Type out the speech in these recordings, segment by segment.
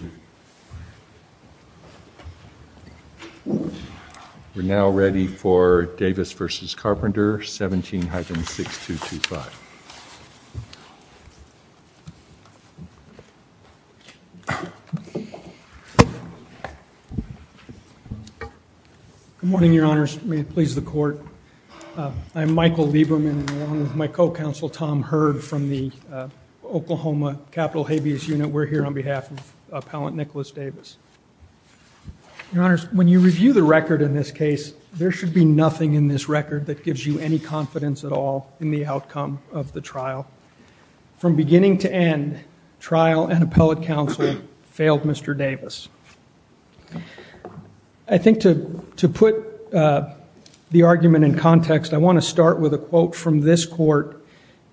We're now ready for Davis v. Carpenter, 17-6225. Good morning, Your Honors. May it please the Court. I'm Michael Lieberman, and along with my co-counsel Tom Hurd from the Oklahoma Capitol Habeas Unit, we're here on behalf of Appellant Nicholas Davis. Your Honors, when you review the record in this case, there should be nothing in this record that gives you any confidence at all in the outcome of the trial. From beginning to end, trial and appellate counsel failed Mr. Davis. I think to put the argument in context, I want to start with a quote from this Court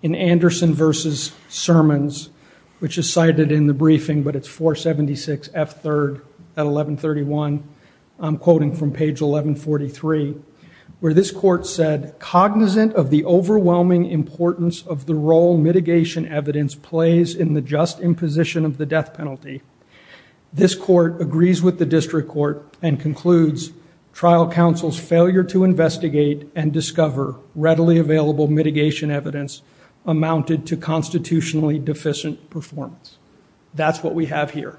in Anderson v. Sermons, which is cited in the briefing, but it's 476 F. 3rd at 1131. I'm quoting from page 1143, where this Court said, Cognizant of the overwhelming importance of the role mitigation evidence plays in the just imposition of the death penalty, this Court agrees with the District Court and concludes trial counsel's failure to investigate and discover readily available mitigation evidence amounted to constitutionally deficient performance. That's what we have here.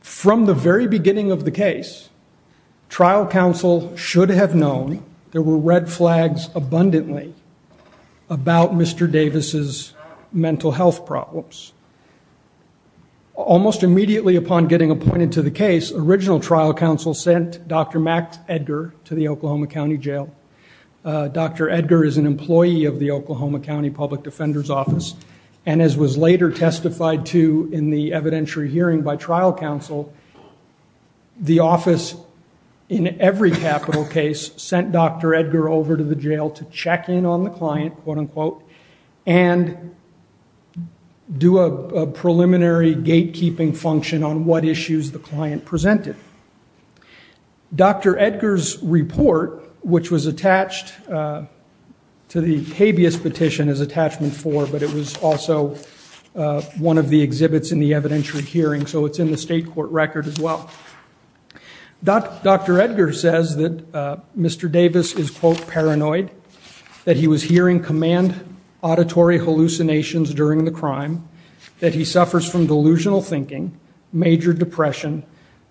From the very beginning of the case, trial counsel should have known there were red flags abundantly about Mr. Davis' mental health problems. Almost immediately upon getting appointed to the case, original trial counsel sent Dr. Max Edgar to the Oklahoma County Jail. Dr. Edgar is an employee of the Oklahoma County Public Defender's Office, and as was later testified to in the evidentiary hearing by trial counsel, the office in every capital case sent Dr. Edgar over to the jail to check in on the client, quote unquote, and do a preliminary gatekeeping function on what issues the client presented. Dr. Edgar's report, which was attached to the habeas petition as attachment 4, but it was also one of the exhibits in the evidentiary hearing, so it's in the state court record as well, Dr. Edgar says that Mr. Davis is, quote, paranoid, that he was hearing command auditory hallucinations during the crime, that he suffers from delusional thinking, major depression,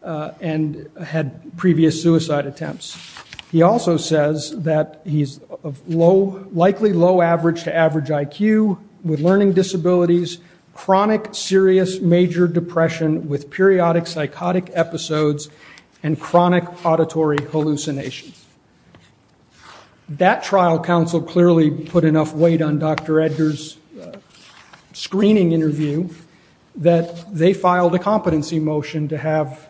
and had previous suicide attempts. He also says that he's likely low average to average IQ, with learning disabilities, chronic serious major depression with periodic psychotic episodes, and chronic auditory hallucinations. That trial counsel clearly put enough weight on Dr. Edgar's screening interview that they filed a competency motion to have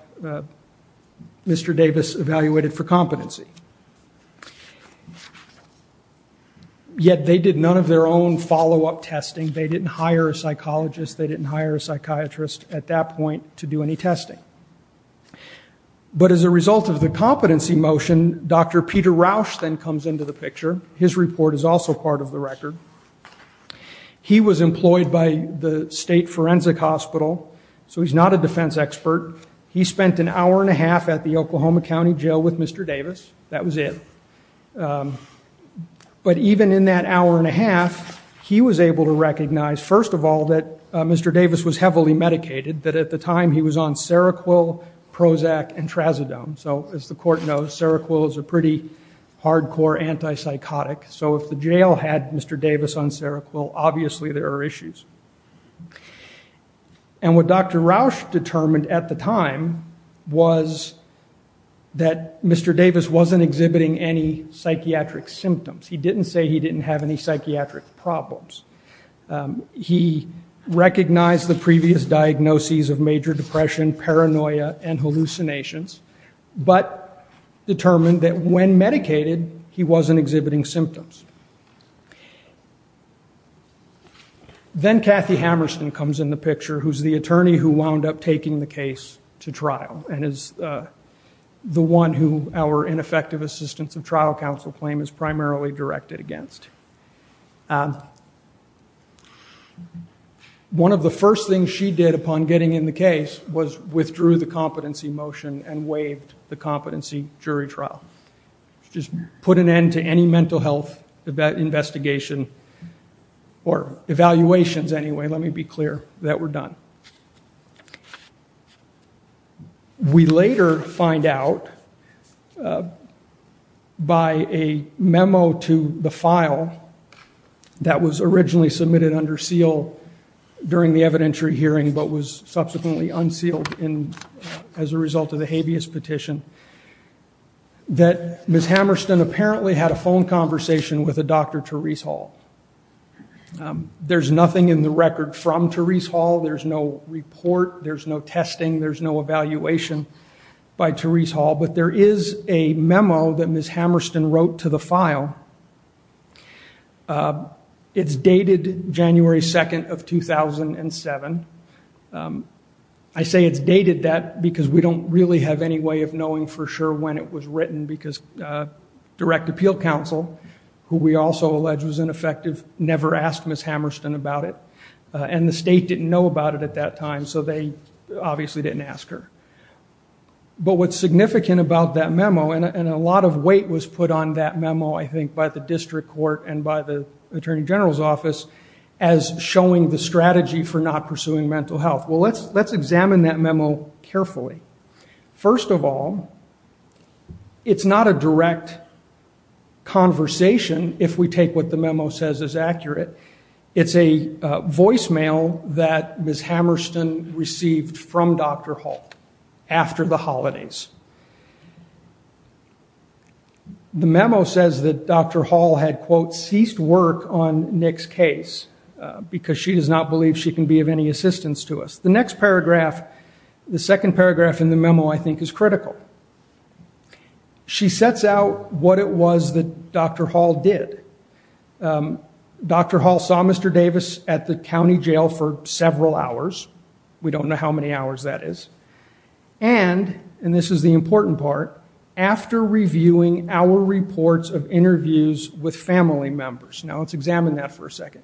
Mr. Davis evaluated for competency. Yet they did none of their own follow-up testing, they didn't hire a psychologist, they didn't hire a psychiatrist at that point to do any testing. But as a result of the competency motion, Dr. Peter Rausch then comes into the picture. His report is also part of the record. He was employed by the state forensic hospital, so he's not a defense expert. He spent an hour and a half at the Oklahoma County Jail with Mr. Davis, that was it. But even in that hour and a half, he was able to recognize, first of all, that Mr. Davis was heavily medicated, that at the time he was on Seroquel, Prozac, and Trazodone. So as the court knows, Seroquel is a pretty hardcore anti-psychotic, so if the jail had Mr. Davis on Seroquel, obviously there are issues. And what Dr. Rausch determined at the time was that Mr. Davis wasn't exhibiting any psychiatric symptoms. He didn't say he didn't have any psychiatric problems. He recognized the previous diagnoses of major depression, paranoia, and hallucinations, but determined that when medicated, he wasn't exhibiting symptoms. Then Kathy Hammerstein comes in the picture, who's the attorney who wound up taking the case to trial, and is the one who our ineffective assistance of trial counsel claim is primarily directed against. One of the first things she did upon getting in the case was withdrew the competency motion and waived the competency jury trial. Just put an end to any mental health investigation, or evaluations anyway, let me be clear, that were done. We later find out by a memo to the file that was originally submitted under seal during the evidentiary hearing, but was subsequently unsealed as a result of the habeas petition, that Ms. Hammerstein apparently had a phone conversation with a Dr. Therese Hall. There's nothing in the record from Therese Hall. There's no report. There's no testing. There's no evaluation by Therese Hall, but there is a memo that Ms. Hammerstein wrote to the file. It's dated January 2nd of 2007. I say it's dated that because we don't really have any way of knowing for sure when it was never asked Ms. Hammerstein about it. The state didn't know about it at that time, so they obviously didn't ask her. What's significant about that memo, and a lot of weight was put on that memo, I think, by the district court and by the attorney general's office, as showing the strategy for not pursuing mental health. Let's examine that memo carefully. First of all, it's not a direct conversation, if we take what the memo says is accurate. It's a voicemail that Ms. Hammerstein received from Dr. Hall after the holidays. The memo says that Dr. Hall had, quote, ceased work on Nick's case because she does not believe she can be of any assistance to us. The next paragraph, the second paragraph in the memo, I think, is critical. She sets out what it was that Dr. Hall did. Dr. Hall saw Mr. Davis at the county jail for several hours. We don't know how many hours that is. This is the important part. After reviewing our reports of interviews with family members. Now let's examine that for a second.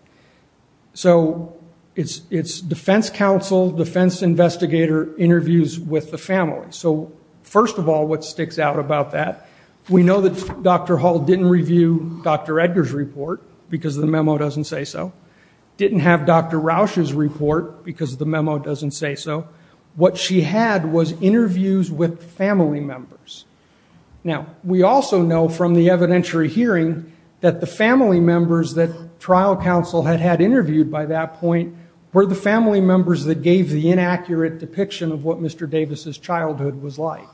So it's defense counsel, defense investigator interviews with the family. So first of all, what sticks out about that, we know that Dr. Hall didn't review Dr. Edgar's report because the memo doesn't say so. Didn't have Dr. Rausch's report because the memo doesn't say so. What she had was interviews with family members. Now we also know from the evidentiary hearing that the family members that trial counsel had had interviewed by that point were the family members that gave the inaccurate depiction of what Mr. Davis's childhood was like.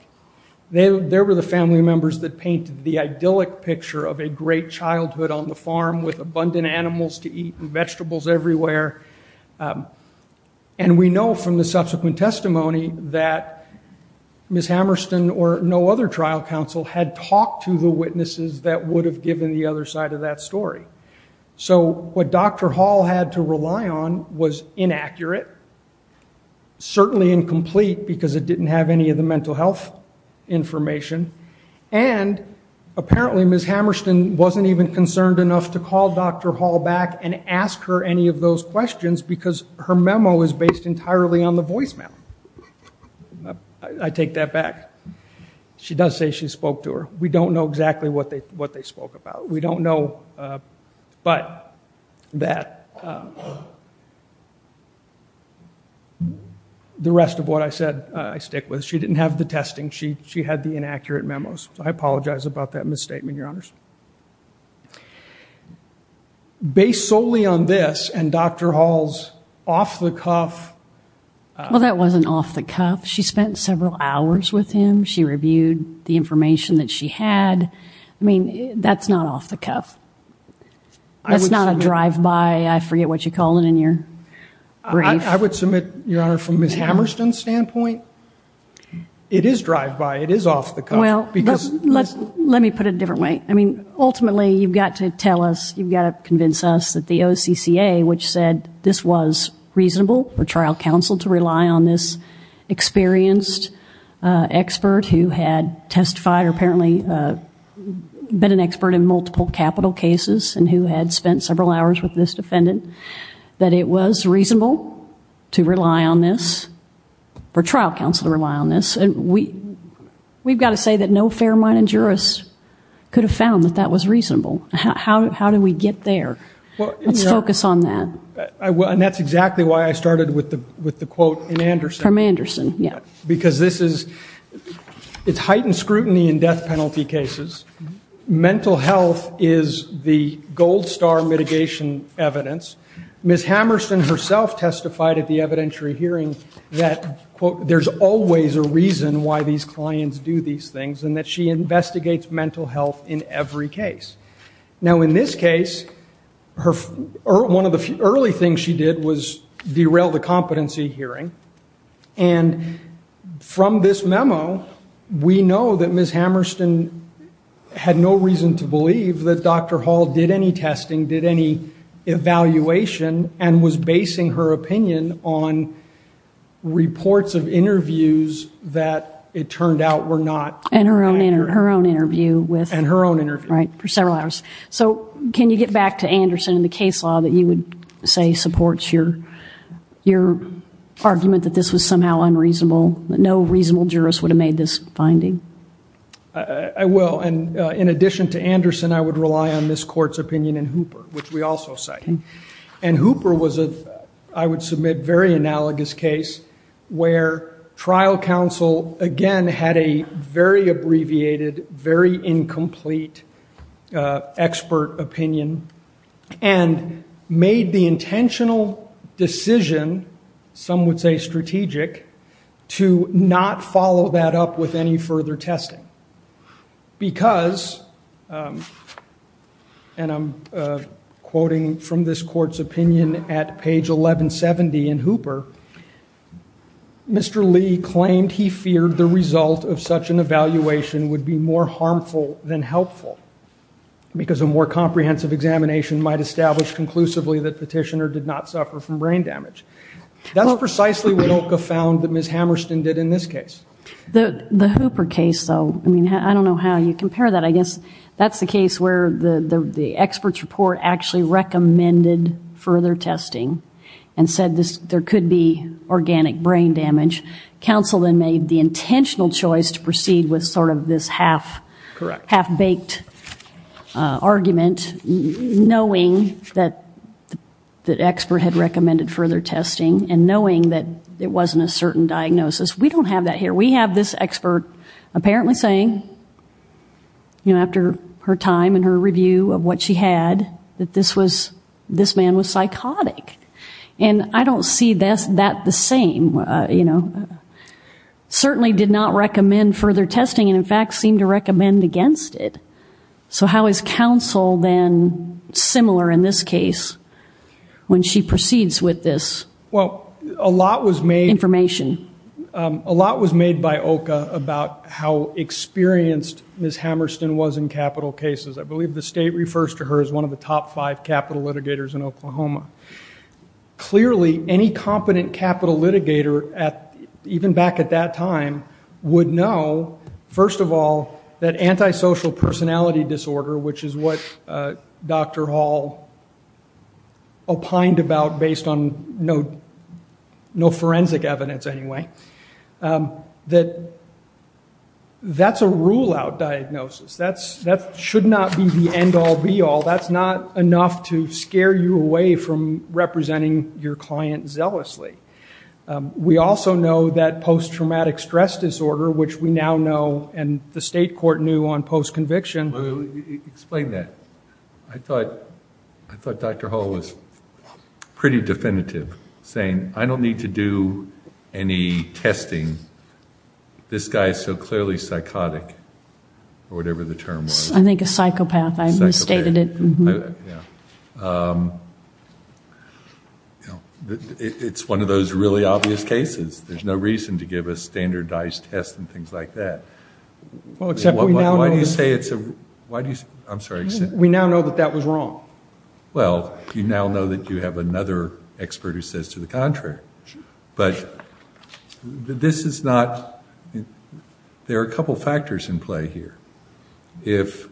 There were the family members that painted the idyllic picture of a great childhood on the farm with abundant animals to eat and vegetables everywhere. And we know from the subsequent testimony that Ms. Hammerstein or no other trial counsel had talked to the witnesses that would have given the other side of that story. So what Dr. Hall had to rely on was inaccurate, certainly incomplete because it didn't have any of the mental health information. And apparently Ms. Hammerstein wasn't even concerned enough to call Dr. Hall back and ask her any of those questions because her memo is based entirely on the voicemail. I take that back. She does say she spoke to her. We don't know exactly what they spoke about. We don't know but that. The rest of what I said I stick with. She didn't have the testing. She had the inaccurate memos. I apologize about that misstatement, your honors. Based solely on this and Dr. Hall's off-the-cuff. Well, that wasn't off-the-cuff. She spent several hours with him. She reviewed the information that she had. I mean, that's not off-the-cuff. That's not a drive-by. I forget what you call it in your brief. I would submit, your honor, from Ms. Hammerstein's standpoint, it is drive-by. It is off-the-cuff. Well, let me put it a different way. Ultimately, you've got to tell us, you've got to convince us that the OCCA, which said this was reasonable for trial counsel to rely on this experienced expert who had testified or apparently been an expert in multiple capital cases and who had spent several hours with this defendant, that it was reasonable to rely on this, for trial counsel to rely on this. We've got to say that no fair-minded jurist could have found that that was reasonable. How do we get there? Let's focus on that. And that's exactly why I started with the quote from Anderson. From Anderson, yeah. Because this is heightened scrutiny in death penalty cases. Mental health is the gold star mitigation evidence. Ms. Hammerstein herself testified at the evidentiary hearing that, quote, there is always a reason why these clients do these things and that she investigates mental health in every case. Now, in this case, one of the early things she did was derail the competency hearing. And from this memo, we know that Ms. Hammerstein had no reason to believe that Dr. Hall did any testing, did any evaluation, and was basing her opinion on reports of interviews that it turned out were not accurate. And her own interview with her. And her own interview. Right, for several hours. So can you get back to Anderson and the case law that you would say supports your argument that this was somehow unreasonable, that no reasonable jurist would have made this finding? I will. And in addition to Anderson, I would rely on Ms. Court's opinion in Hooper, which we also cite. And Hooper was, I would submit, a very analogous case where trial counsel, again, had a very abbreviated, very incomplete expert opinion and made the intentional decision, some would say strategic, to not follow that up with any further testing. Because, and I'm quoting from this court's opinion at page 1170 in Hooper, Mr. Lee claimed he feared the result of such an evaluation would be more harmful than helpful because a more comprehensive examination might establish conclusively that Petitioner did not suffer from brain damage. That's precisely what OCA found that Ms. Hammerstein did in this case. The Hooper case, though, I mean, I don't know how you compare that. I guess that's the case where the expert's report actually recommended further testing and said there could be organic brain damage. Counsel then made the intentional choice to proceed with sort of this half-baked argument, knowing that the expert had recommended further testing and knowing that it wasn't a certain diagnosis. We don't have that here. We have this expert apparently saying, you know, after her time and her review of what she had, that this man was psychotic. And I don't see that the same, you know. Certainly did not recommend further testing and, in fact, seemed to recommend against it. So how is counsel then similar in this case when she proceeds with this information? Well, a lot was made by OCA about how experienced Ms. Hammerstein was in capital cases. I believe the state refers to her as one of the top five capital litigators in Oklahoma. Clearly, any competent capital litigator, even back at that time, would know, first of all, that antisocial personality disorder, which is what Dr. Hall opined about based on no forensic evidence anyway, that that's a rule-out diagnosis. That should not be the end-all, be-all. That's not enough to scare you away from representing your client zealously. We also know that post-traumatic stress disorder, which we now know, and the state court knew on post-conviction. Explain that. I thought Dr. Hall was pretty definitive, saying, I don't need to do any testing. This guy is so clearly psychotic, or whatever the term was. I think a psychopath. Psychopath. I misstated it. It's one of those really obvious cases. There's no reason to give a standardized test and things like that. Well, except we now know. Why do you say it's a, I'm sorry. We now know that that was wrong. Well, you now know that you have another expert who says to the contrary. But this is not, there are a couple factors in play here. If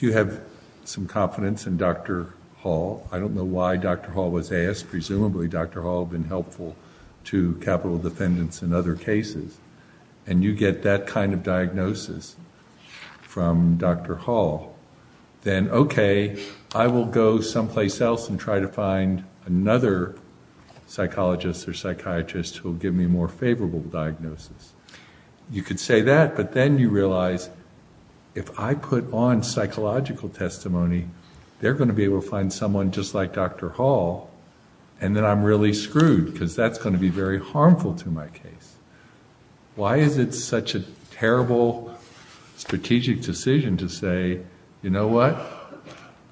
you have some confidence in Dr. Hall, I don't know why Dr. Hall was asked. Presumably Dr. Hall had been helpful to capital defendants in other cases. And you get that kind of diagnosis from Dr. Hall. Then, okay, I will go someplace else and try to find another psychologist or psychiatrist who will give me a more favorable diagnosis. You could say that, but then you realize, if I put on psychological testimony, they're going to be able to find someone just like Dr. Hall, and then I'm really screwed because that's going to be very harmful to my case. Why is it such a terrible strategic decision to say, you know what,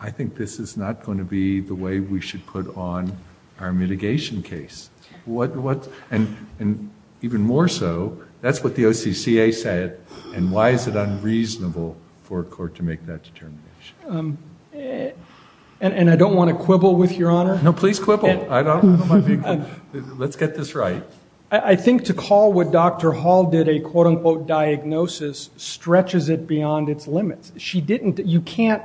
I think this is not going to be the way we should put on our mitigation case? And even more so, that's what the OCCA said, and why is it unreasonable for a court to make that determination? And I don't want to quibble with Your Honor. No, please quibble. I don't want to be, let's get this right. I think to call what Dr. Hall did a quote-unquote diagnosis stretches it beyond its limits. She didn't, you can't,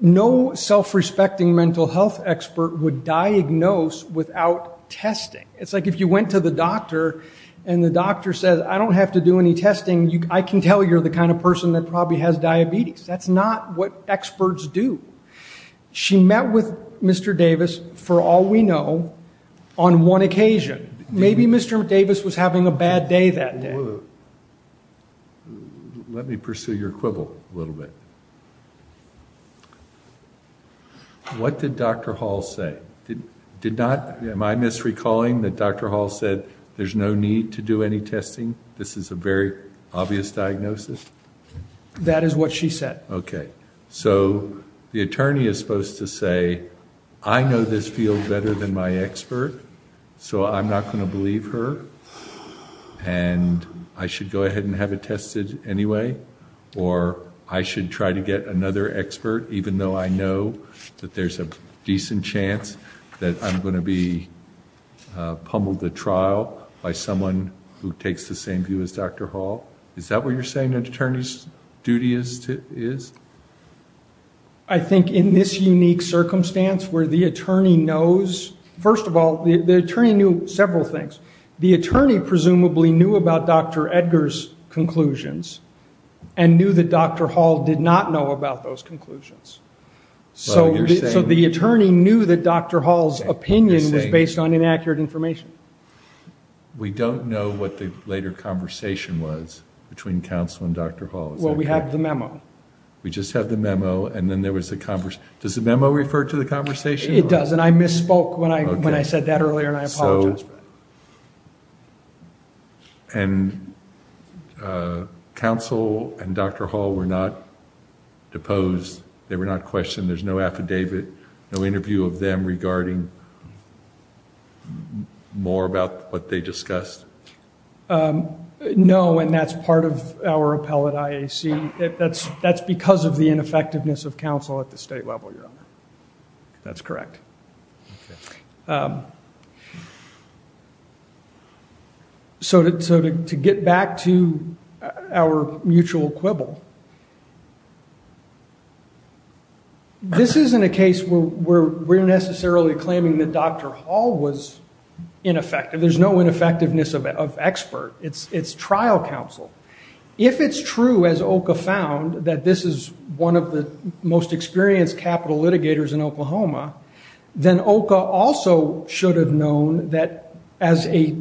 no self-respecting mental health expert would diagnose without testing. It's like if you went to the doctor and the doctor says, I don't have to do any testing, I can tell you're the kind of person that probably has diabetes. That's not what experts do. She met with Mr. Davis, for all we know, on one occasion. Maybe Mr. Davis was having a bad day that day. Let me pursue your quibble a little bit. What did Dr. Hall say? Did not, am I misrecalling that Dr. Hall said there's no need to do any testing? This is a very obvious diagnosis? That is what she said. The attorney is supposed to say, I know this field better than my expert, so I'm not going to believe her, and I should go ahead and have it tested anyway, or I should try to get another expert even though I know that there's a decent chance that I'm going to be pummeled at trial by someone who takes the same view as Dr. Hall. Is that what you're saying an attorney's duty is? I think in this unique circumstance where the attorney knows, first of all, the attorney knew several things. The attorney presumably knew about Dr. Edgar's conclusions and knew that Dr. Hall did not know about those conclusions. So the attorney knew that Dr. Hall's opinion was based on inaccurate information. We don't know what the later conversation was between counsel and Dr. Hall. Well, we have the memo. We just have the memo, and then there was a conversation. Does the memo refer to the conversation? It does, and I misspoke when I said that earlier, and I apologize for that. And counsel and Dr. Hall were not deposed, they were not questioned, there's no affidavit, no interview of them regarding more about what they discussed? No, and that's part of our appellate IAC. That's because of the ineffectiveness of counsel at the state level, Your Honor. That's correct. Okay. So to get back to our mutual quibble, this isn't a case where we're necessarily claiming that Dr. Hall was ineffective. There's no ineffectiveness of expert. It's trial counsel. If it's true, as OCA found, that this is one of the most experienced capital litigators in Oklahoma, then OCA also should have known that as a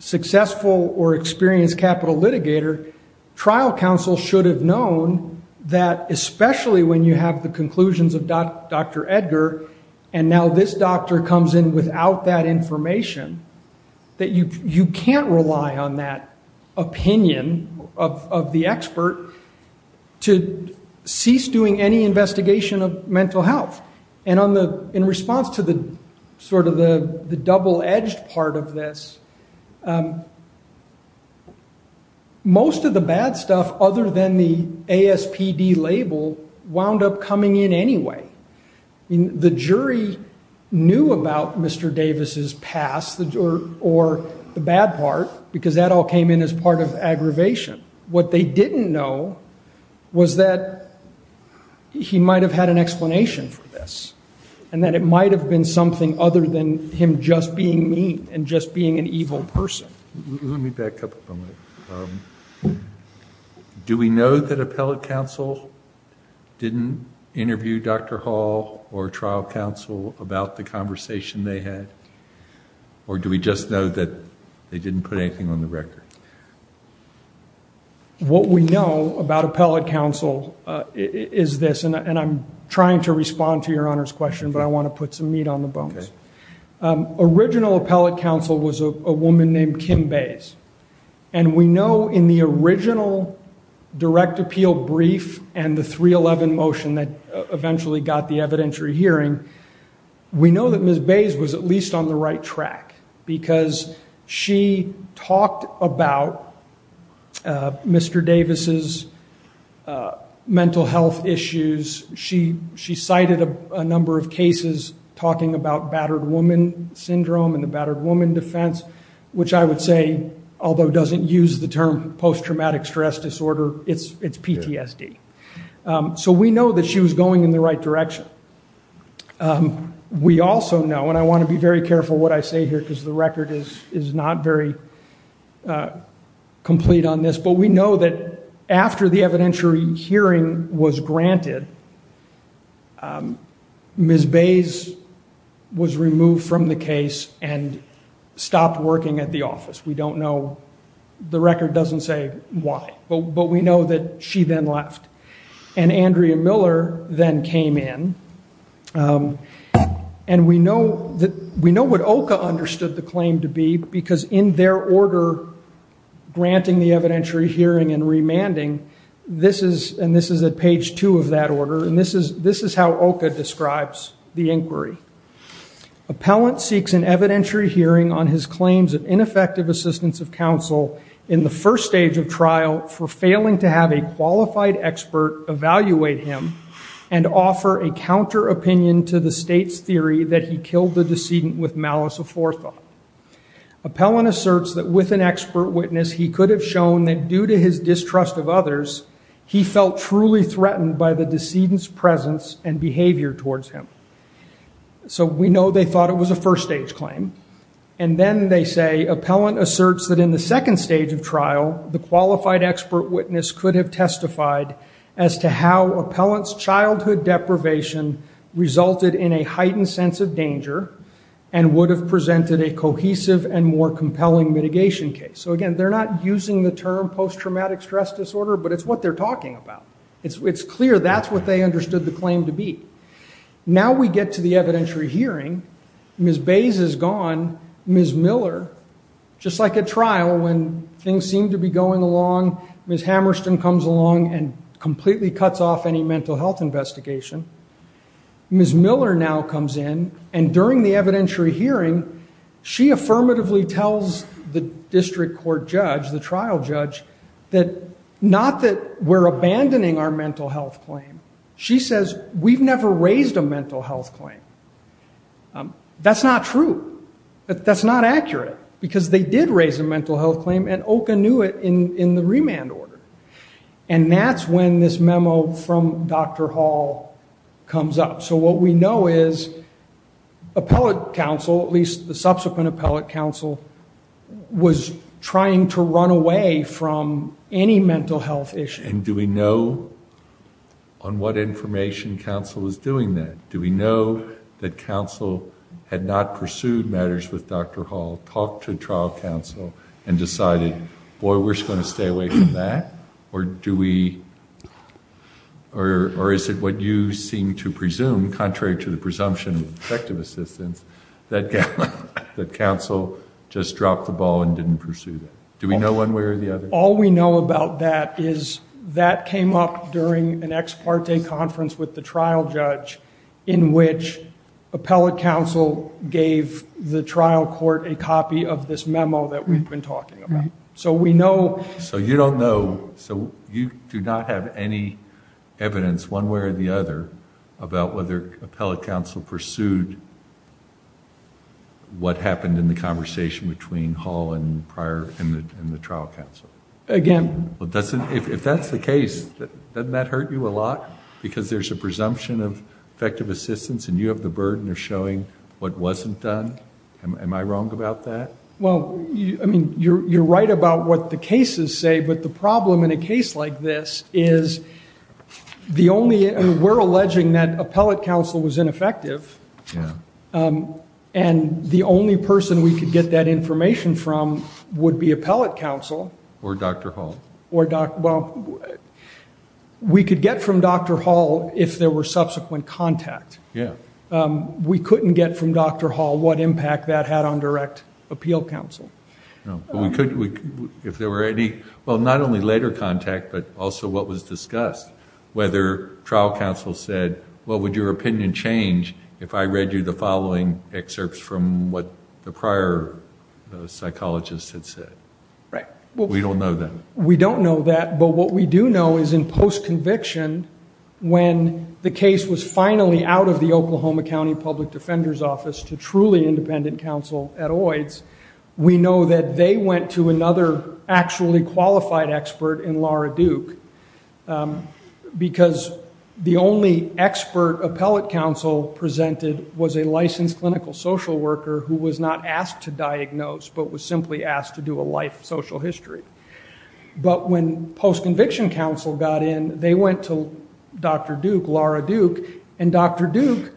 successful or experienced capital litigator, trial counsel should have known that especially when you have the conclusions of Dr. Edgar, and now this doctor comes in without that information, that you can't rely on that opinion of the expert to cease doing any investigation of mental health. And in response to sort of the double-edged part of this, most of the bad stuff other than the ASPD label wound up coming in anyway. The jury knew about Mr. Davis' past or the bad part because that all came in as part of aggravation. What they didn't know was that he might have had an explanation for this and that it might have been something other than him just being mean and just being an evil person. Let me back up a moment. Do we know that appellate counsel didn't interview Dr. Hall or trial counsel about the conversation they had, or do we just know that they didn't put anything on the record? What we know about appellate counsel is this, and I'm trying to respond to Your Honor's question, but I want to put some meat on the bones. Original appellate counsel was a woman named Kim Bays, and we know in the original direct appeal brief and the 311 motion that eventually got the evidentiary hearing, we know that Ms. Bays was at least on the right track because she talked about Mr. Davis' mental health issues. She cited a number of cases talking about battered woman syndrome and the battered woman defense, which I would say, although doesn't use the term post-traumatic stress disorder, it's PTSD. So we know that she was going in the right direction. We also know, and I want to be very careful what I say here because the record is not very complete on this, but we know that after the evidentiary hearing was granted, Ms. Bays was removed from the case and stopped working at the office. We don't know. The record doesn't say why, but we know that she then left. And Andrea Miller then came in, and we know what OCA understood the claim to be because in their order granting the evidentiary hearing and remanding, this is at page two of that order, and this is how OCA describes the inquiry. Appellant seeks an evidentiary hearing on his claims of ineffective assistance of counsel in the first stage of trial for failing to have a qualified expert evaluate him and offer a counter-opinion to the state's theory that he killed the decedent with malice aforethought. Appellant asserts that with an expert witness, he could have shown that due to his distrust of others, he felt truly threatened by the decedent's presence and behavior towards him. So we know they thought it was a first-stage claim. And then they say appellant asserts that in the second stage of trial, the qualified expert witness could have testified as to how appellant's childhood deprivation resulted in a heightened sense of danger and would have presented a cohesive and more compelling mitigation case. So again, they're not using the term post-traumatic stress disorder, but it's what they're talking about. It's clear that's what they understood the claim to be. Now we get to the evidentiary hearing. Ms. Bays is gone. Ms. Miller, just like at trial when things seem to be going along, Ms. Hammerstein comes along and completely cuts off any mental health investigation. Ms. Miller now comes in, and during the evidentiary hearing, she affirmatively tells the district court judge, the trial judge, that not that we're abandoning our mental health claim. She says, we've never raised a mental health claim. That's not true. That's not accurate, because they did raise a mental health claim, and OCA knew it in the remand order. And that's when this memo from Dr. Hall comes up. So what we know is appellate counsel, at least the subsequent appellate counsel, was trying to run away from any mental health issue. And do we know on what information counsel is doing that? Do we know that counsel had not pursued matters with Dr. Hall, talked to trial counsel, and decided, boy, we're just going to stay away from that? Or is it what you seem to presume, contrary to the presumption of effective assistance, that counsel just dropped the ball and didn't pursue that? Do we know one way or the other? All we know about that is that came up during an ex parte conference with the trial judge in which appellate counsel gave the trial court a copy of this memo that we've been talking about. So you don't know, so you do not have any evidence one way or the other about whether appellate counsel pursued what happened in the conversation between Hall and the trial counsel? Again. If that's the case, doesn't that hurt you a lot? Because there's a presumption of effective assistance, and you have the burden of showing what wasn't done? Am I wrong about that? Well, I mean, you're right about what the cases say, but the problem in a case like this is we're alleging that appellate counsel was ineffective, and the only person we could get that information from would be appellate counsel. Or Dr. Hall. Well, we could get from Dr. Hall if there were subsequent contact. We couldn't get from Dr. Hall what impact that had on direct appeal counsel. If there were any, well, not only later contact, but also what was discussed, whether trial counsel said, well, would your opinion change if I read you the following excerpts from what the prior psychologist had said? We don't know that. We don't know that, but what we do know is in post-conviction, when the case was finally out of the Oklahoma County Public Defender's Office to truly independent counsel at OIDS, we know that they went to another actually qualified expert in Laura Duke, because the only expert appellate counsel presented was a licensed clinical social worker who was not asked to diagnose, but was simply asked to do a life social history. But when post-conviction counsel got in, they went to Dr. Duke, Laura Duke, and Dr. Duke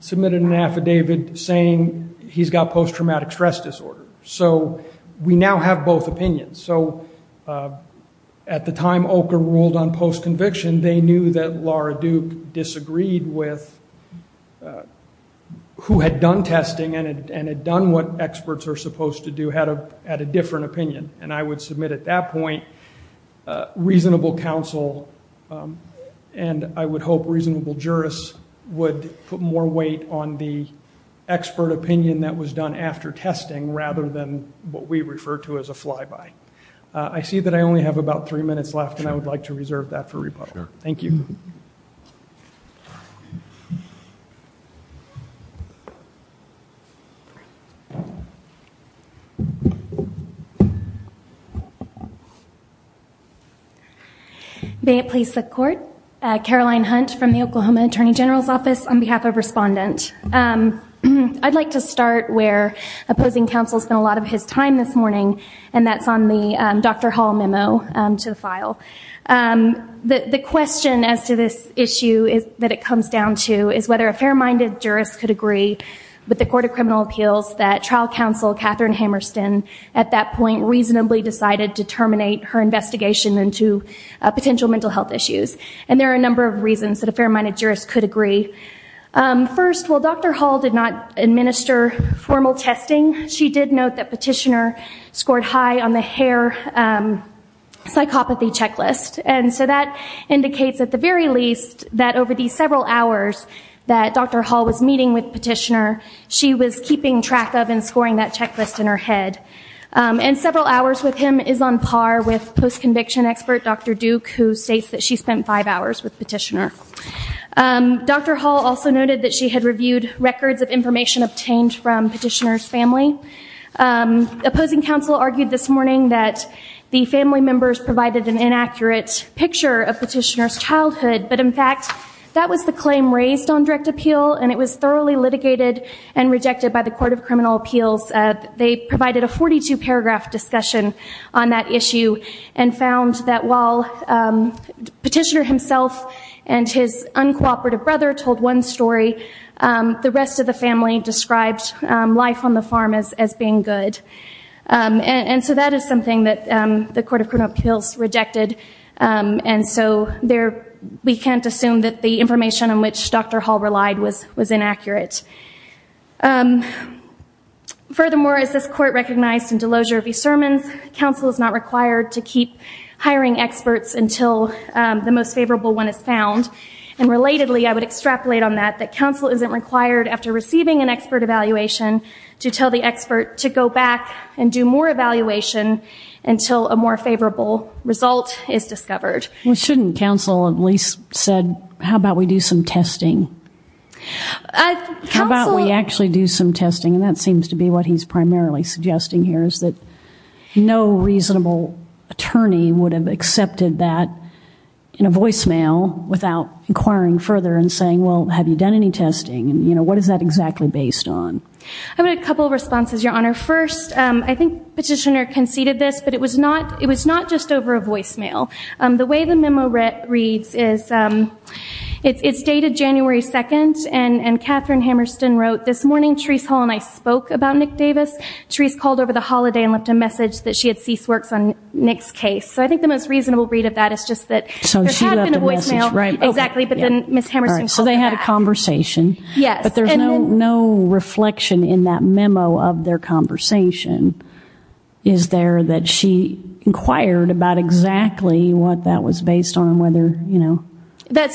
submitted an affidavit saying he's got post-traumatic stress disorder. So we now have both opinions. So at the time OCHR ruled on post-conviction, they knew that Laura Duke disagreed with who had done testing and had done what experts are supposed to do at a different opinion. And I would submit at that point reasonable counsel, and I would hope reasonable jurists would put more weight on the expert opinion that was done after testing, rather than what we refer to as a flyby. I see that I only have about three minutes left, and I would like to reserve that for rebuttal. Thank you. May it please the Court. Caroline Hunt from the Oklahoma Attorney General's Office on behalf of Respondent. I'd like to start where opposing counsel spent a lot of his time this morning, and that's on the Dr. Hall memo to the file. The question as to this issue that it comes down to is whether a fair-minded jurist could agree with the Court of Criminal Appeals that trial counsel, Catherine Hammerston, at that point reasonably decided to terminate her investigation into potential mental health issues. And there are a number of reasons that a fair-minded jurist could agree. First, while Dr. Hall did not administer formal testing, she did note that Petitioner scored high on the hair psychopathy checklist. And so that indicates, at the very least, that over the several hours that Dr. Hall was meeting with Petitioner, she was keeping track of and scoring that checklist in her head. And several hours with him is on par with post-conviction expert Dr. Duke, who states that she spent five hours with Petitioner. Dr. Hall also noted that she had reviewed records of information obtained from Petitioner's family. Opposing counsel argued this morning that the family members provided an inaccurate picture of Petitioner's childhood, but, in fact, that was the claim raised on direct appeal, and it was thoroughly litigated and rejected by the Court of Criminal Appeals. They provided a 42-paragraph discussion on that issue and found that while Petitioner himself and his uncooperative brother told one story, the rest of the family described life on the farm as being good. And so that is something that the Court of Criminal Appeals rejected, and so we can't assume that the information on which Dr. Hall relied was inaccurate. Furthermore, as this Court recognized in Delosier v. Sermons, counsel is not required to keep hiring experts until the most favorable one is found. And, relatedly, I would extrapolate on that, that counsel isn't required, after receiving an expert evaluation, to tell the expert to go back and do more evaluation until a more favorable result is discovered. Well, shouldn't counsel at least have said, how about we do some testing? How about we actually do some testing? And that seems to be what he's primarily suggesting here, is that no reasonable attorney would have accepted that in a voicemail without inquiring further and saying, well, have you done any testing? What is that exactly based on? I have a couple of responses, Your Honor. First, I think Petitioner conceded this, but it was not just over a voicemail. The way the memo reads is, it's dated January 2nd, and Katherine Hammerston wrote, This morning, Therese Hall and I spoke about Nick Davis. Therese called over the holiday and left a message that she had ceased works on Nick's case. So I think the most reasonable read of that is just that there had been a voicemail. So she left a message, right. Exactly, but then Ms. Hammerston called back. So they had a conversation. Yes. But there's no reflection in that memo of their conversation, is there, that she inquired about exactly what that was based on, whether, you know.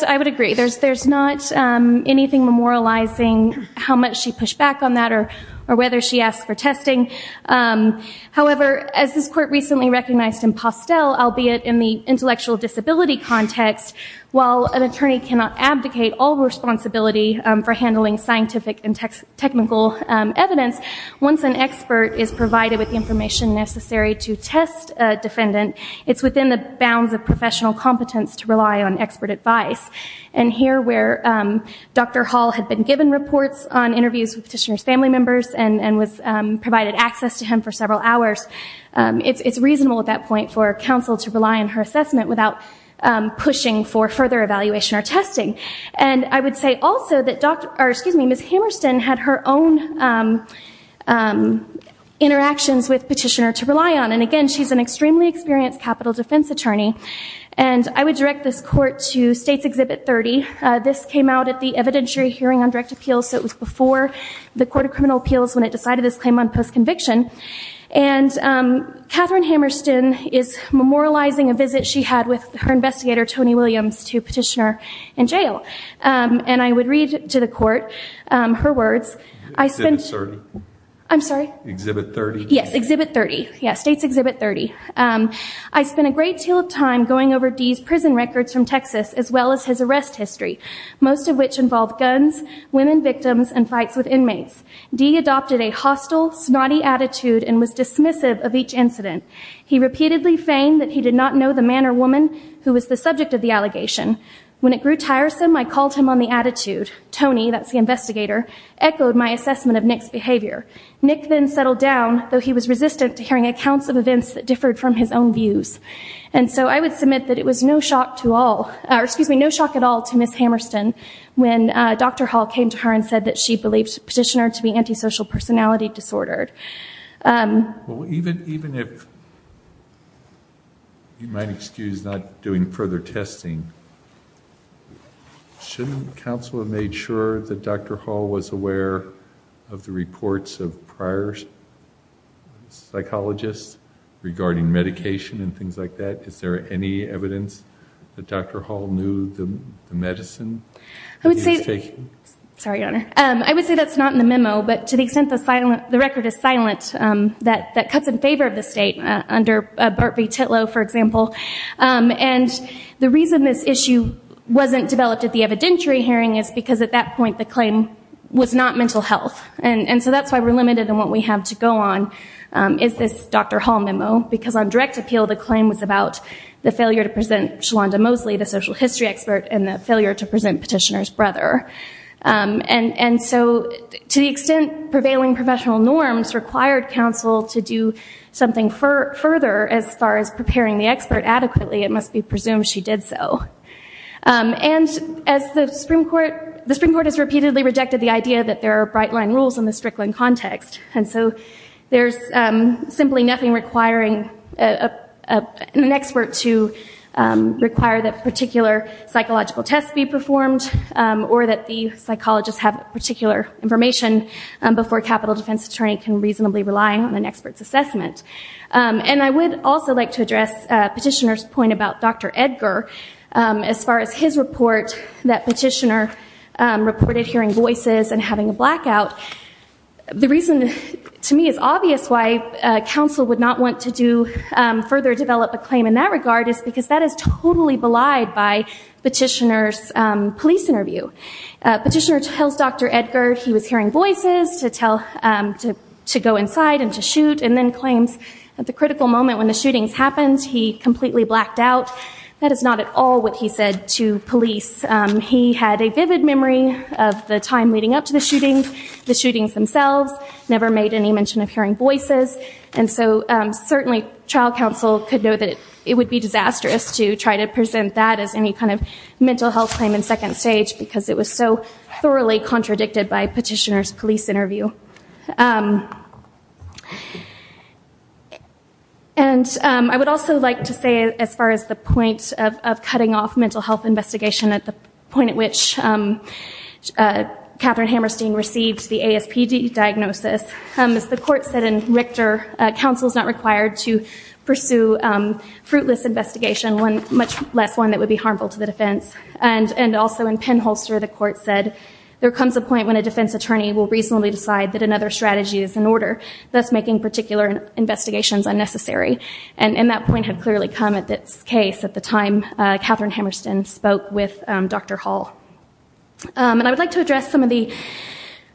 I would agree. There's not anything memorializing how much she pushed back on that or whether she asked for testing. However, as this Court recently recognized in Postel, albeit in the intellectual disability context, while an attorney cannot abdicate all responsibility for handling scientific and technical evidence, once an expert is provided with the information necessary to test a defendant, it's within the bounds of professional competence to rely on expert advice. And here where Dr. Hall had been given reports on interviews with petitioner's family members and was provided access to him for several hours, it's reasonable at that point for counsel to rely on her assessment without pushing for further evaluation or testing. And I would say also that Ms. Hammerston had her own interactions with petitioner to rely on. And again, she's an extremely experienced capital defense attorney. And I would direct this Court to States Exhibit 30. This came out at the evidentiary hearing on direct appeals, so it was before the Court of Criminal Appeals when it decided this claim on post-conviction. And Katherine Hammerston is memorializing a visit she had with her investigator, Tony Williams, to petitioner in jail. And I would read to the Court her words. I spent... Exhibit 30. I'm sorry? Exhibit 30. Yes, Exhibit 30. Yeah, States Exhibit 30. I spent a great deal of time going over Dee's prison records from Texas as well as his arrest history, most of which involved guns, women victims, and fights with inmates. Dee adopted a hostile, snotty attitude and was dismissive of each incident. He repeatedly feigned that he did not know the man or woman who was the subject of the allegation. When it grew tiresome, I called him on the attitude. Tony, that's the investigator, echoed my assessment of Nick's behavior. Nick then settled down, though he was resistant to hearing accounts of events that differed from his own views. And so I would submit that it was no shock at all to Ms. Hammerston when Dr. Hall came to her and said that she believed the petitioner to be antisocial personality disordered. Well, even if you might excuse not doing further testing, shouldn't counsel have made sure that Dr. Hall was aware of the reports of prior psychologists regarding medication and things like that? Is there any evidence that Dr. Hall knew the medicine that he was taking? Sorry, Your Honor. I would say that's not in the memo, but to the extent the record is silent, that cuts in favor of the state under Bart V. Titlow, for example. And the reason this issue wasn't developed at the evidentiary hearing is because at that point the claim was not mental health. And so that's why we're limited in what we have to go on is this Dr. Hall memo, because on direct appeal the claim was about the failure to present Shalonda Mosley, the social history expert, and the failure to present petitioner's brother. And so to the extent prevailing professional norms required counsel to do something further as far as preparing the expert adequately, it must be presumed she did so. And the Supreme Court has repeatedly rejected the idea that there are bright-line rules in the Strickland context. And so there's simply nothing requiring an expert to require that particular psychological tests be performed or that the psychologists have particular information before a capital defense attorney can reasonably rely on an expert's assessment. And I would also like to address Petitioner's point about Dr. Edgar as far as his report that Petitioner reported hearing voices and having a blackout. The reason to me is obvious why counsel would not want to further develop a claim in that regard is because that is totally belied by Petitioner's police interview. Petitioner tells Dr. Edgar he was hearing voices to go inside and to shoot and then claims at the critical moment when the shootings happened he completely blacked out. That is not at all what he said to police. He had a vivid memory of the time leading up to the shootings, the shootings themselves, never made any mention of hearing voices. And so certainly trial counsel could know that it would be disastrous to try to present that as any kind of mental health claim in second stage because it was so thoroughly contradicted by Petitioner's police interview. And I would also like to say as far as the point of cutting off mental health investigation at the point at which Katherine Hammerstein received the ASPD diagnosis, as the court said in Richter, counsel is not required to pursue fruitless investigation, much less one that would be harmful to the defense. And also in Penholster the court said there comes a point when a defense attorney will reasonably decide that another strategy is in order, thus making particular investigations unnecessary. And that point had clearly come at this case at the time Katherine Hammerstein spoke with Dr. Hall. And I would like to address some of the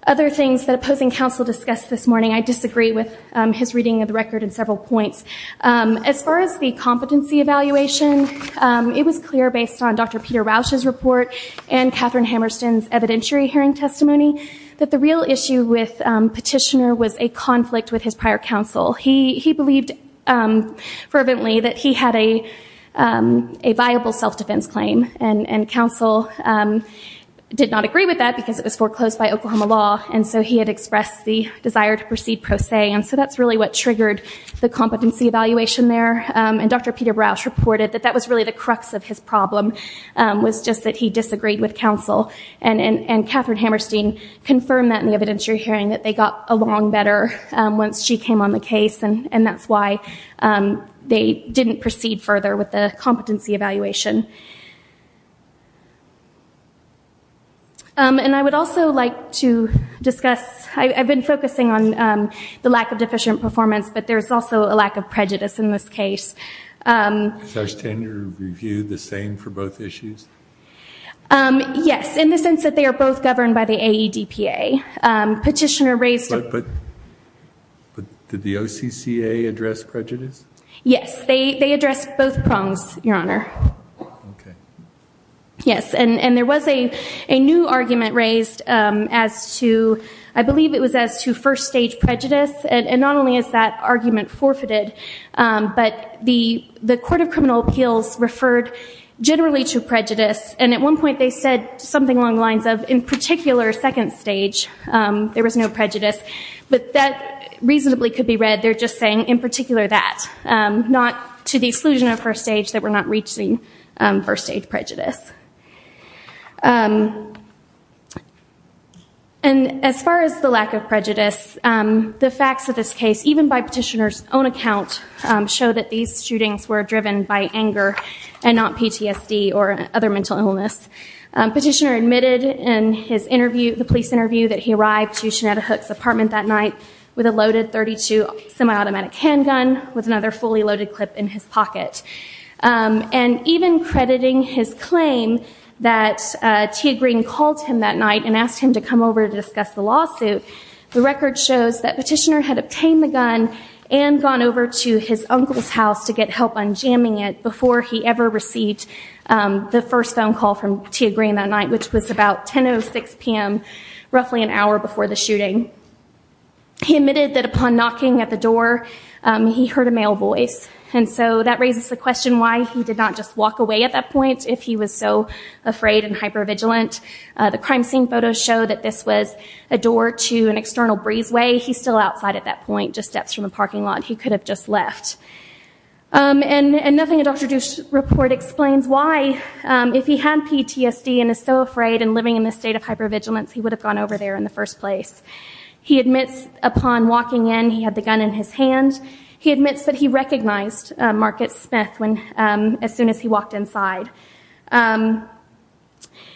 other things that opposing counsel discussed this morning. I disagree with his reading of the record in several points. As far as the competency evaluation, it was clear based on Dr. Peter Rausch's report and Katherine Hammerstein's evidentiary hearing testimony that the real issue with Petitioner was a conflict with his prior counsel. He believed fervently that he had a viable self-defense claim. And counsel did not agree with that because it was foreclosed by Oklahoma law. And so he had expressed the desire to proceed pro se. And so that's really what triggered the competency evaluation there. And Dr. Peter Rausch reported that that was really the crux of his problem was just that he disagreed with counsel. And Katherine Hammerstein confirmed that in the evidentiary hearing that they got along better once she came on the case. And that's why they didn't proceed further with the competency evaluation. And I would also like to discuss, I've been focusing on the lack of deficient performance, but there's also a lack of prejudice in this case. Does our standard review the same for both issues? Yes, in the sense that they are both governed by the AEDPA. But did the OCCA address prejudice? Yes, they addressed both prongs, Your Honor. Yes, and there was a new argument raised as to, I believe it was as to first stage prejudice. And not only is that argument forfeited, but the Court of Criminal Appeals referred generally to prejudice. And at one point they said something along the lines of, in particular, second stage, there was no prejudice. But that reasonably could be read, they're just saying, in particular, that. Not to the exclusion of first stage, that we're not reaching first stage prejudice. And as far as the lack of prejudice, the facts of this case, even by Petitioner's own account, show that these shootings were driven by anger and not PTSD or other mental illness. Petitioner admitted in his interview, the police interview, that he arrived to Shanetta Hook's apartment that night with a loaded .32 semi-automatic handgun with another fully loaded clip in his pocket. And even crediting his claim that Tia Green called him that night and asked him to come over to discuss the lawsuit, the record shows that Petitioner had obtained the gun and gone over to his uncle's house to get help on jamming it before he ever received the first phone call from Tia Green that night, which was about 10.06 p.m., roughly an hour before the shooting. He admitted that upon knocking at the door, he heard a male voice. And so that raises the question why he did not just walk away at that point if he was so afraid and hyper-vigilant. The crime scene photos show that this was a door to an external breezeway. He's still outside at that point, just steps from a parking lot. He could have just left. And nothing in Dr. Duce's report explains why, if he had PTSD and is so afraid and living in this state of hyper-vigilance, he would have gone over there in the first place. He admits upon walking in, he had the gun in his hand. He admits that he recognized Market Smith as soon as he walked inside.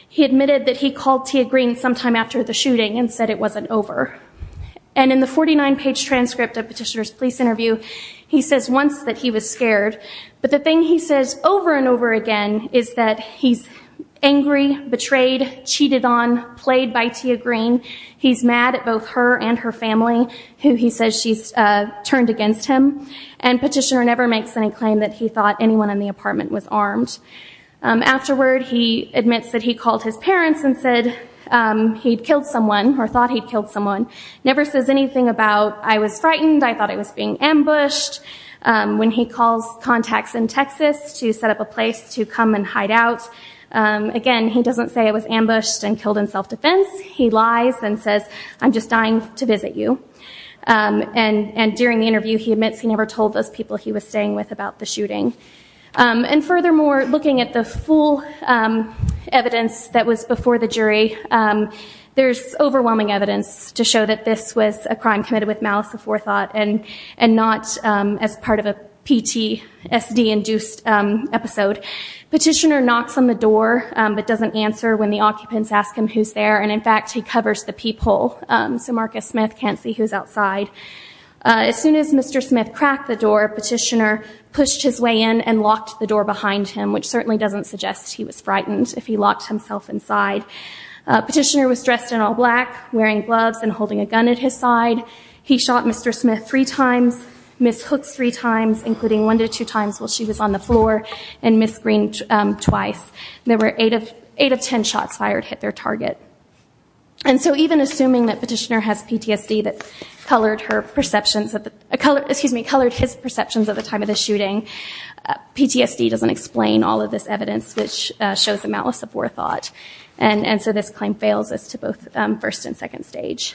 He admitted that he called Tia Green sometime after the shooting and said it wasn't over. And in the 49-page transcript of Petitioner's police interview, he says once that he was scared. But the thing he says over and over again is that he's angry, betrayed, cheated on, played by Tia Green. He's mad at both her and her family, who he says she's turned against him. And Petitioner never makes any claim that he thought anyone in the apartment was armed. Afterward, he admits that he called his parents and said he'd killed someone or thought he'd killed someone. Never says anything about, I was frightened, I thought I was being ambushed. When he calls contacts in Texas to set up a place to come and hide out, again, he doesn't say it was ambushed and killed in self-defense. He lies and says, I'm just dying to visit you. And during the interview, he admits he never told those people he was staying with about the shooting. And furthermore, looking at the full evidence that was before the jury, there's overwhelming evidence to show that this was a crime committed with malice before thought and not as part of a PTSD-induced episode. Petitioner knocks on the door but doesn't answer when the occupants ask him who's there. And, in fact, he covers the peephole so Marcus Smith can't see who's outside. As soon as Mr. Smith cracked the door, Petitioner pushed his way in and locked the door behind him, which certainly doesn't suggest he was frightened if he locked himself inside. Petitioner was dressed in all black, wearing gloves and holding a gun at his side. He shot Mr. Smith three times, Miss Hooks three times, including one to two times while she was on the floor, and Miss Green twice. There were eight of ten shots fired hit their target. And so even assuming that Petitioner has PTSD that colored his perceptions at the time of the shooting, PTSD doesn't explain all of this evidence, which shows the malice before thought. And so this claim fails us to both first and second stage.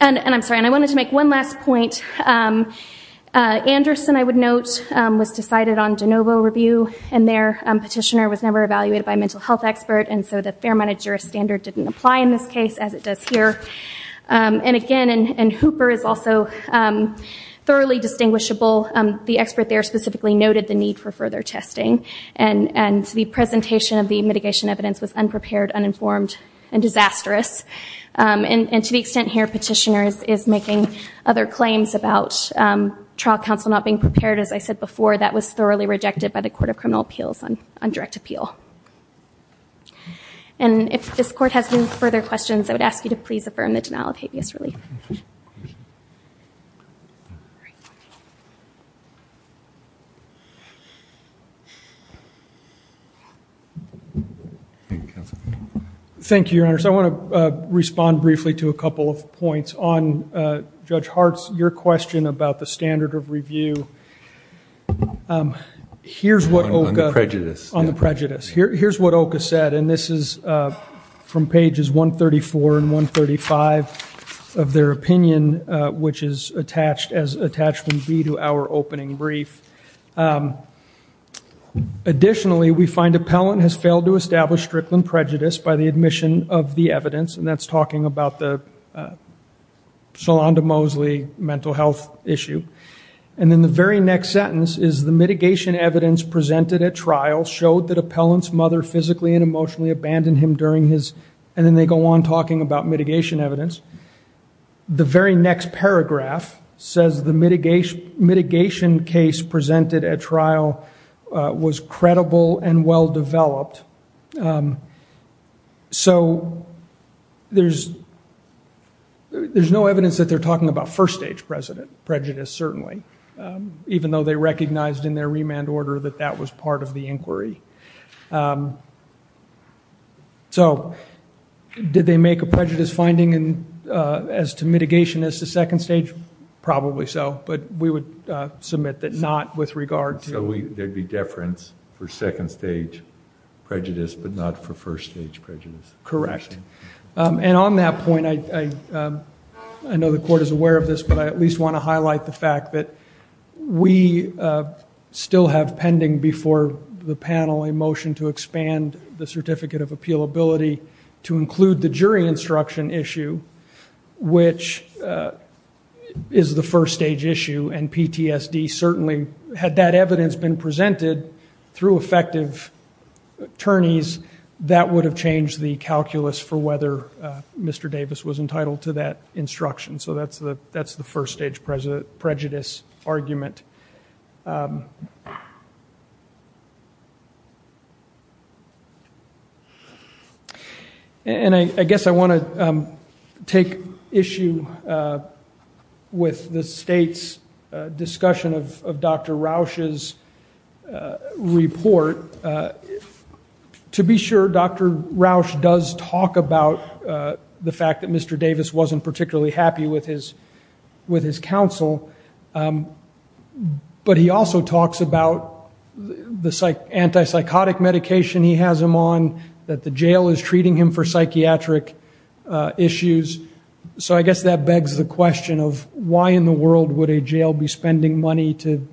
And I'm sorry, I wanted to make one last point. Anderson, I would note, was decided on de novo review, and their petitioner was never evaluated by a mental health expert, and so the fair amount of juris standard didn't apply in this case as it does here. And, again, Hooper is also thoroughly distinguishable. The expert there specifically noted the need for further testing, and the presentation of the mitigation evidence was unprepared, uninformed, and disastrous. And to the extent here Petitioner is making other claims about trial counsel not being prepared, as I said before, that was thoroughly rejected by the Court of Criminal Appeals on direct appeal. And if this Court has any further questions, I would ask you to please affirm the denial of habeas relief. Thank you. Thank you, Counsel. Thank you, Your Honors. I want to respond briefly to a couple of points. On Judge Hart's, your question about the standard of review, here's what OCA said, and this is from pages 134 and 135 of their opinion, which is attached as attachment B to our opening brief. Additionally, we find appellant has failed to establish strickland prejudice by the admission of the evidence, and that's talking about the Sholanda Mosley mental health issue. And then the very next sentence is, the mitigation evidence presented at trial showed that appellant's mother physically and emotionally abandoned him during his, and then they go on talking about mitigation evidence. The very next paragraph says the mitigation case presented at trial was credible and well-developed. So there's no evidence that they're talking about first stage prejudice, certainly, even though they recognized in their remand order that that was part of the inquiry. So did they make a prejudice finding as to mitigation as to second stage? Probably so. But we would submit that not with regard to. So there would be deference for second stage prejudice, but not for first stage prejudice. Correct. And on that point, I know the court is aware of this, but I at least want to highlight the fact that we still have pending before the panel a motion to expand the Certificate of Appealability to include the jury instruction issue, which is the first stage issue, and PTSD certainly had that evidence been presented through effective attorneys, that would have changed the calculus for whether Mr. Davis was entitled to that instruction. So that's the first stage prejudice argument. And I guess I want to take issue with the state's discussion of Dr. Rausch's report. To be sure, Dr. Rausch does talk about the fact that Mr. Davis wasn't particularly happy with his counsel. But he also talks about the anti-psychotic medication he has him on, that the jail is treating him for psychiatric issues. So I guess that begs the question of why in the world would a jail be spending money to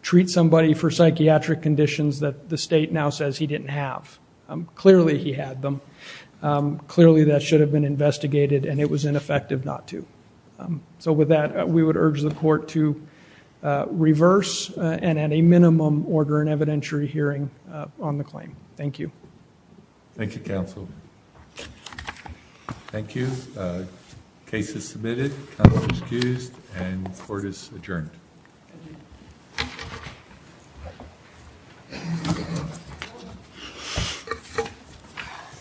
treat somebody for psychiatric conditions that the state now says he didn't have? Clearly he had them. Clearly that should have been investigated, and it was ineffective not to. So with that, we would urge the court to reverse and at a minimum order an evidentiary hearing on the claim. Thank you. Thank you, counsel. Thank you. Case is submitted. Counsel is excused, and the court is adjourned.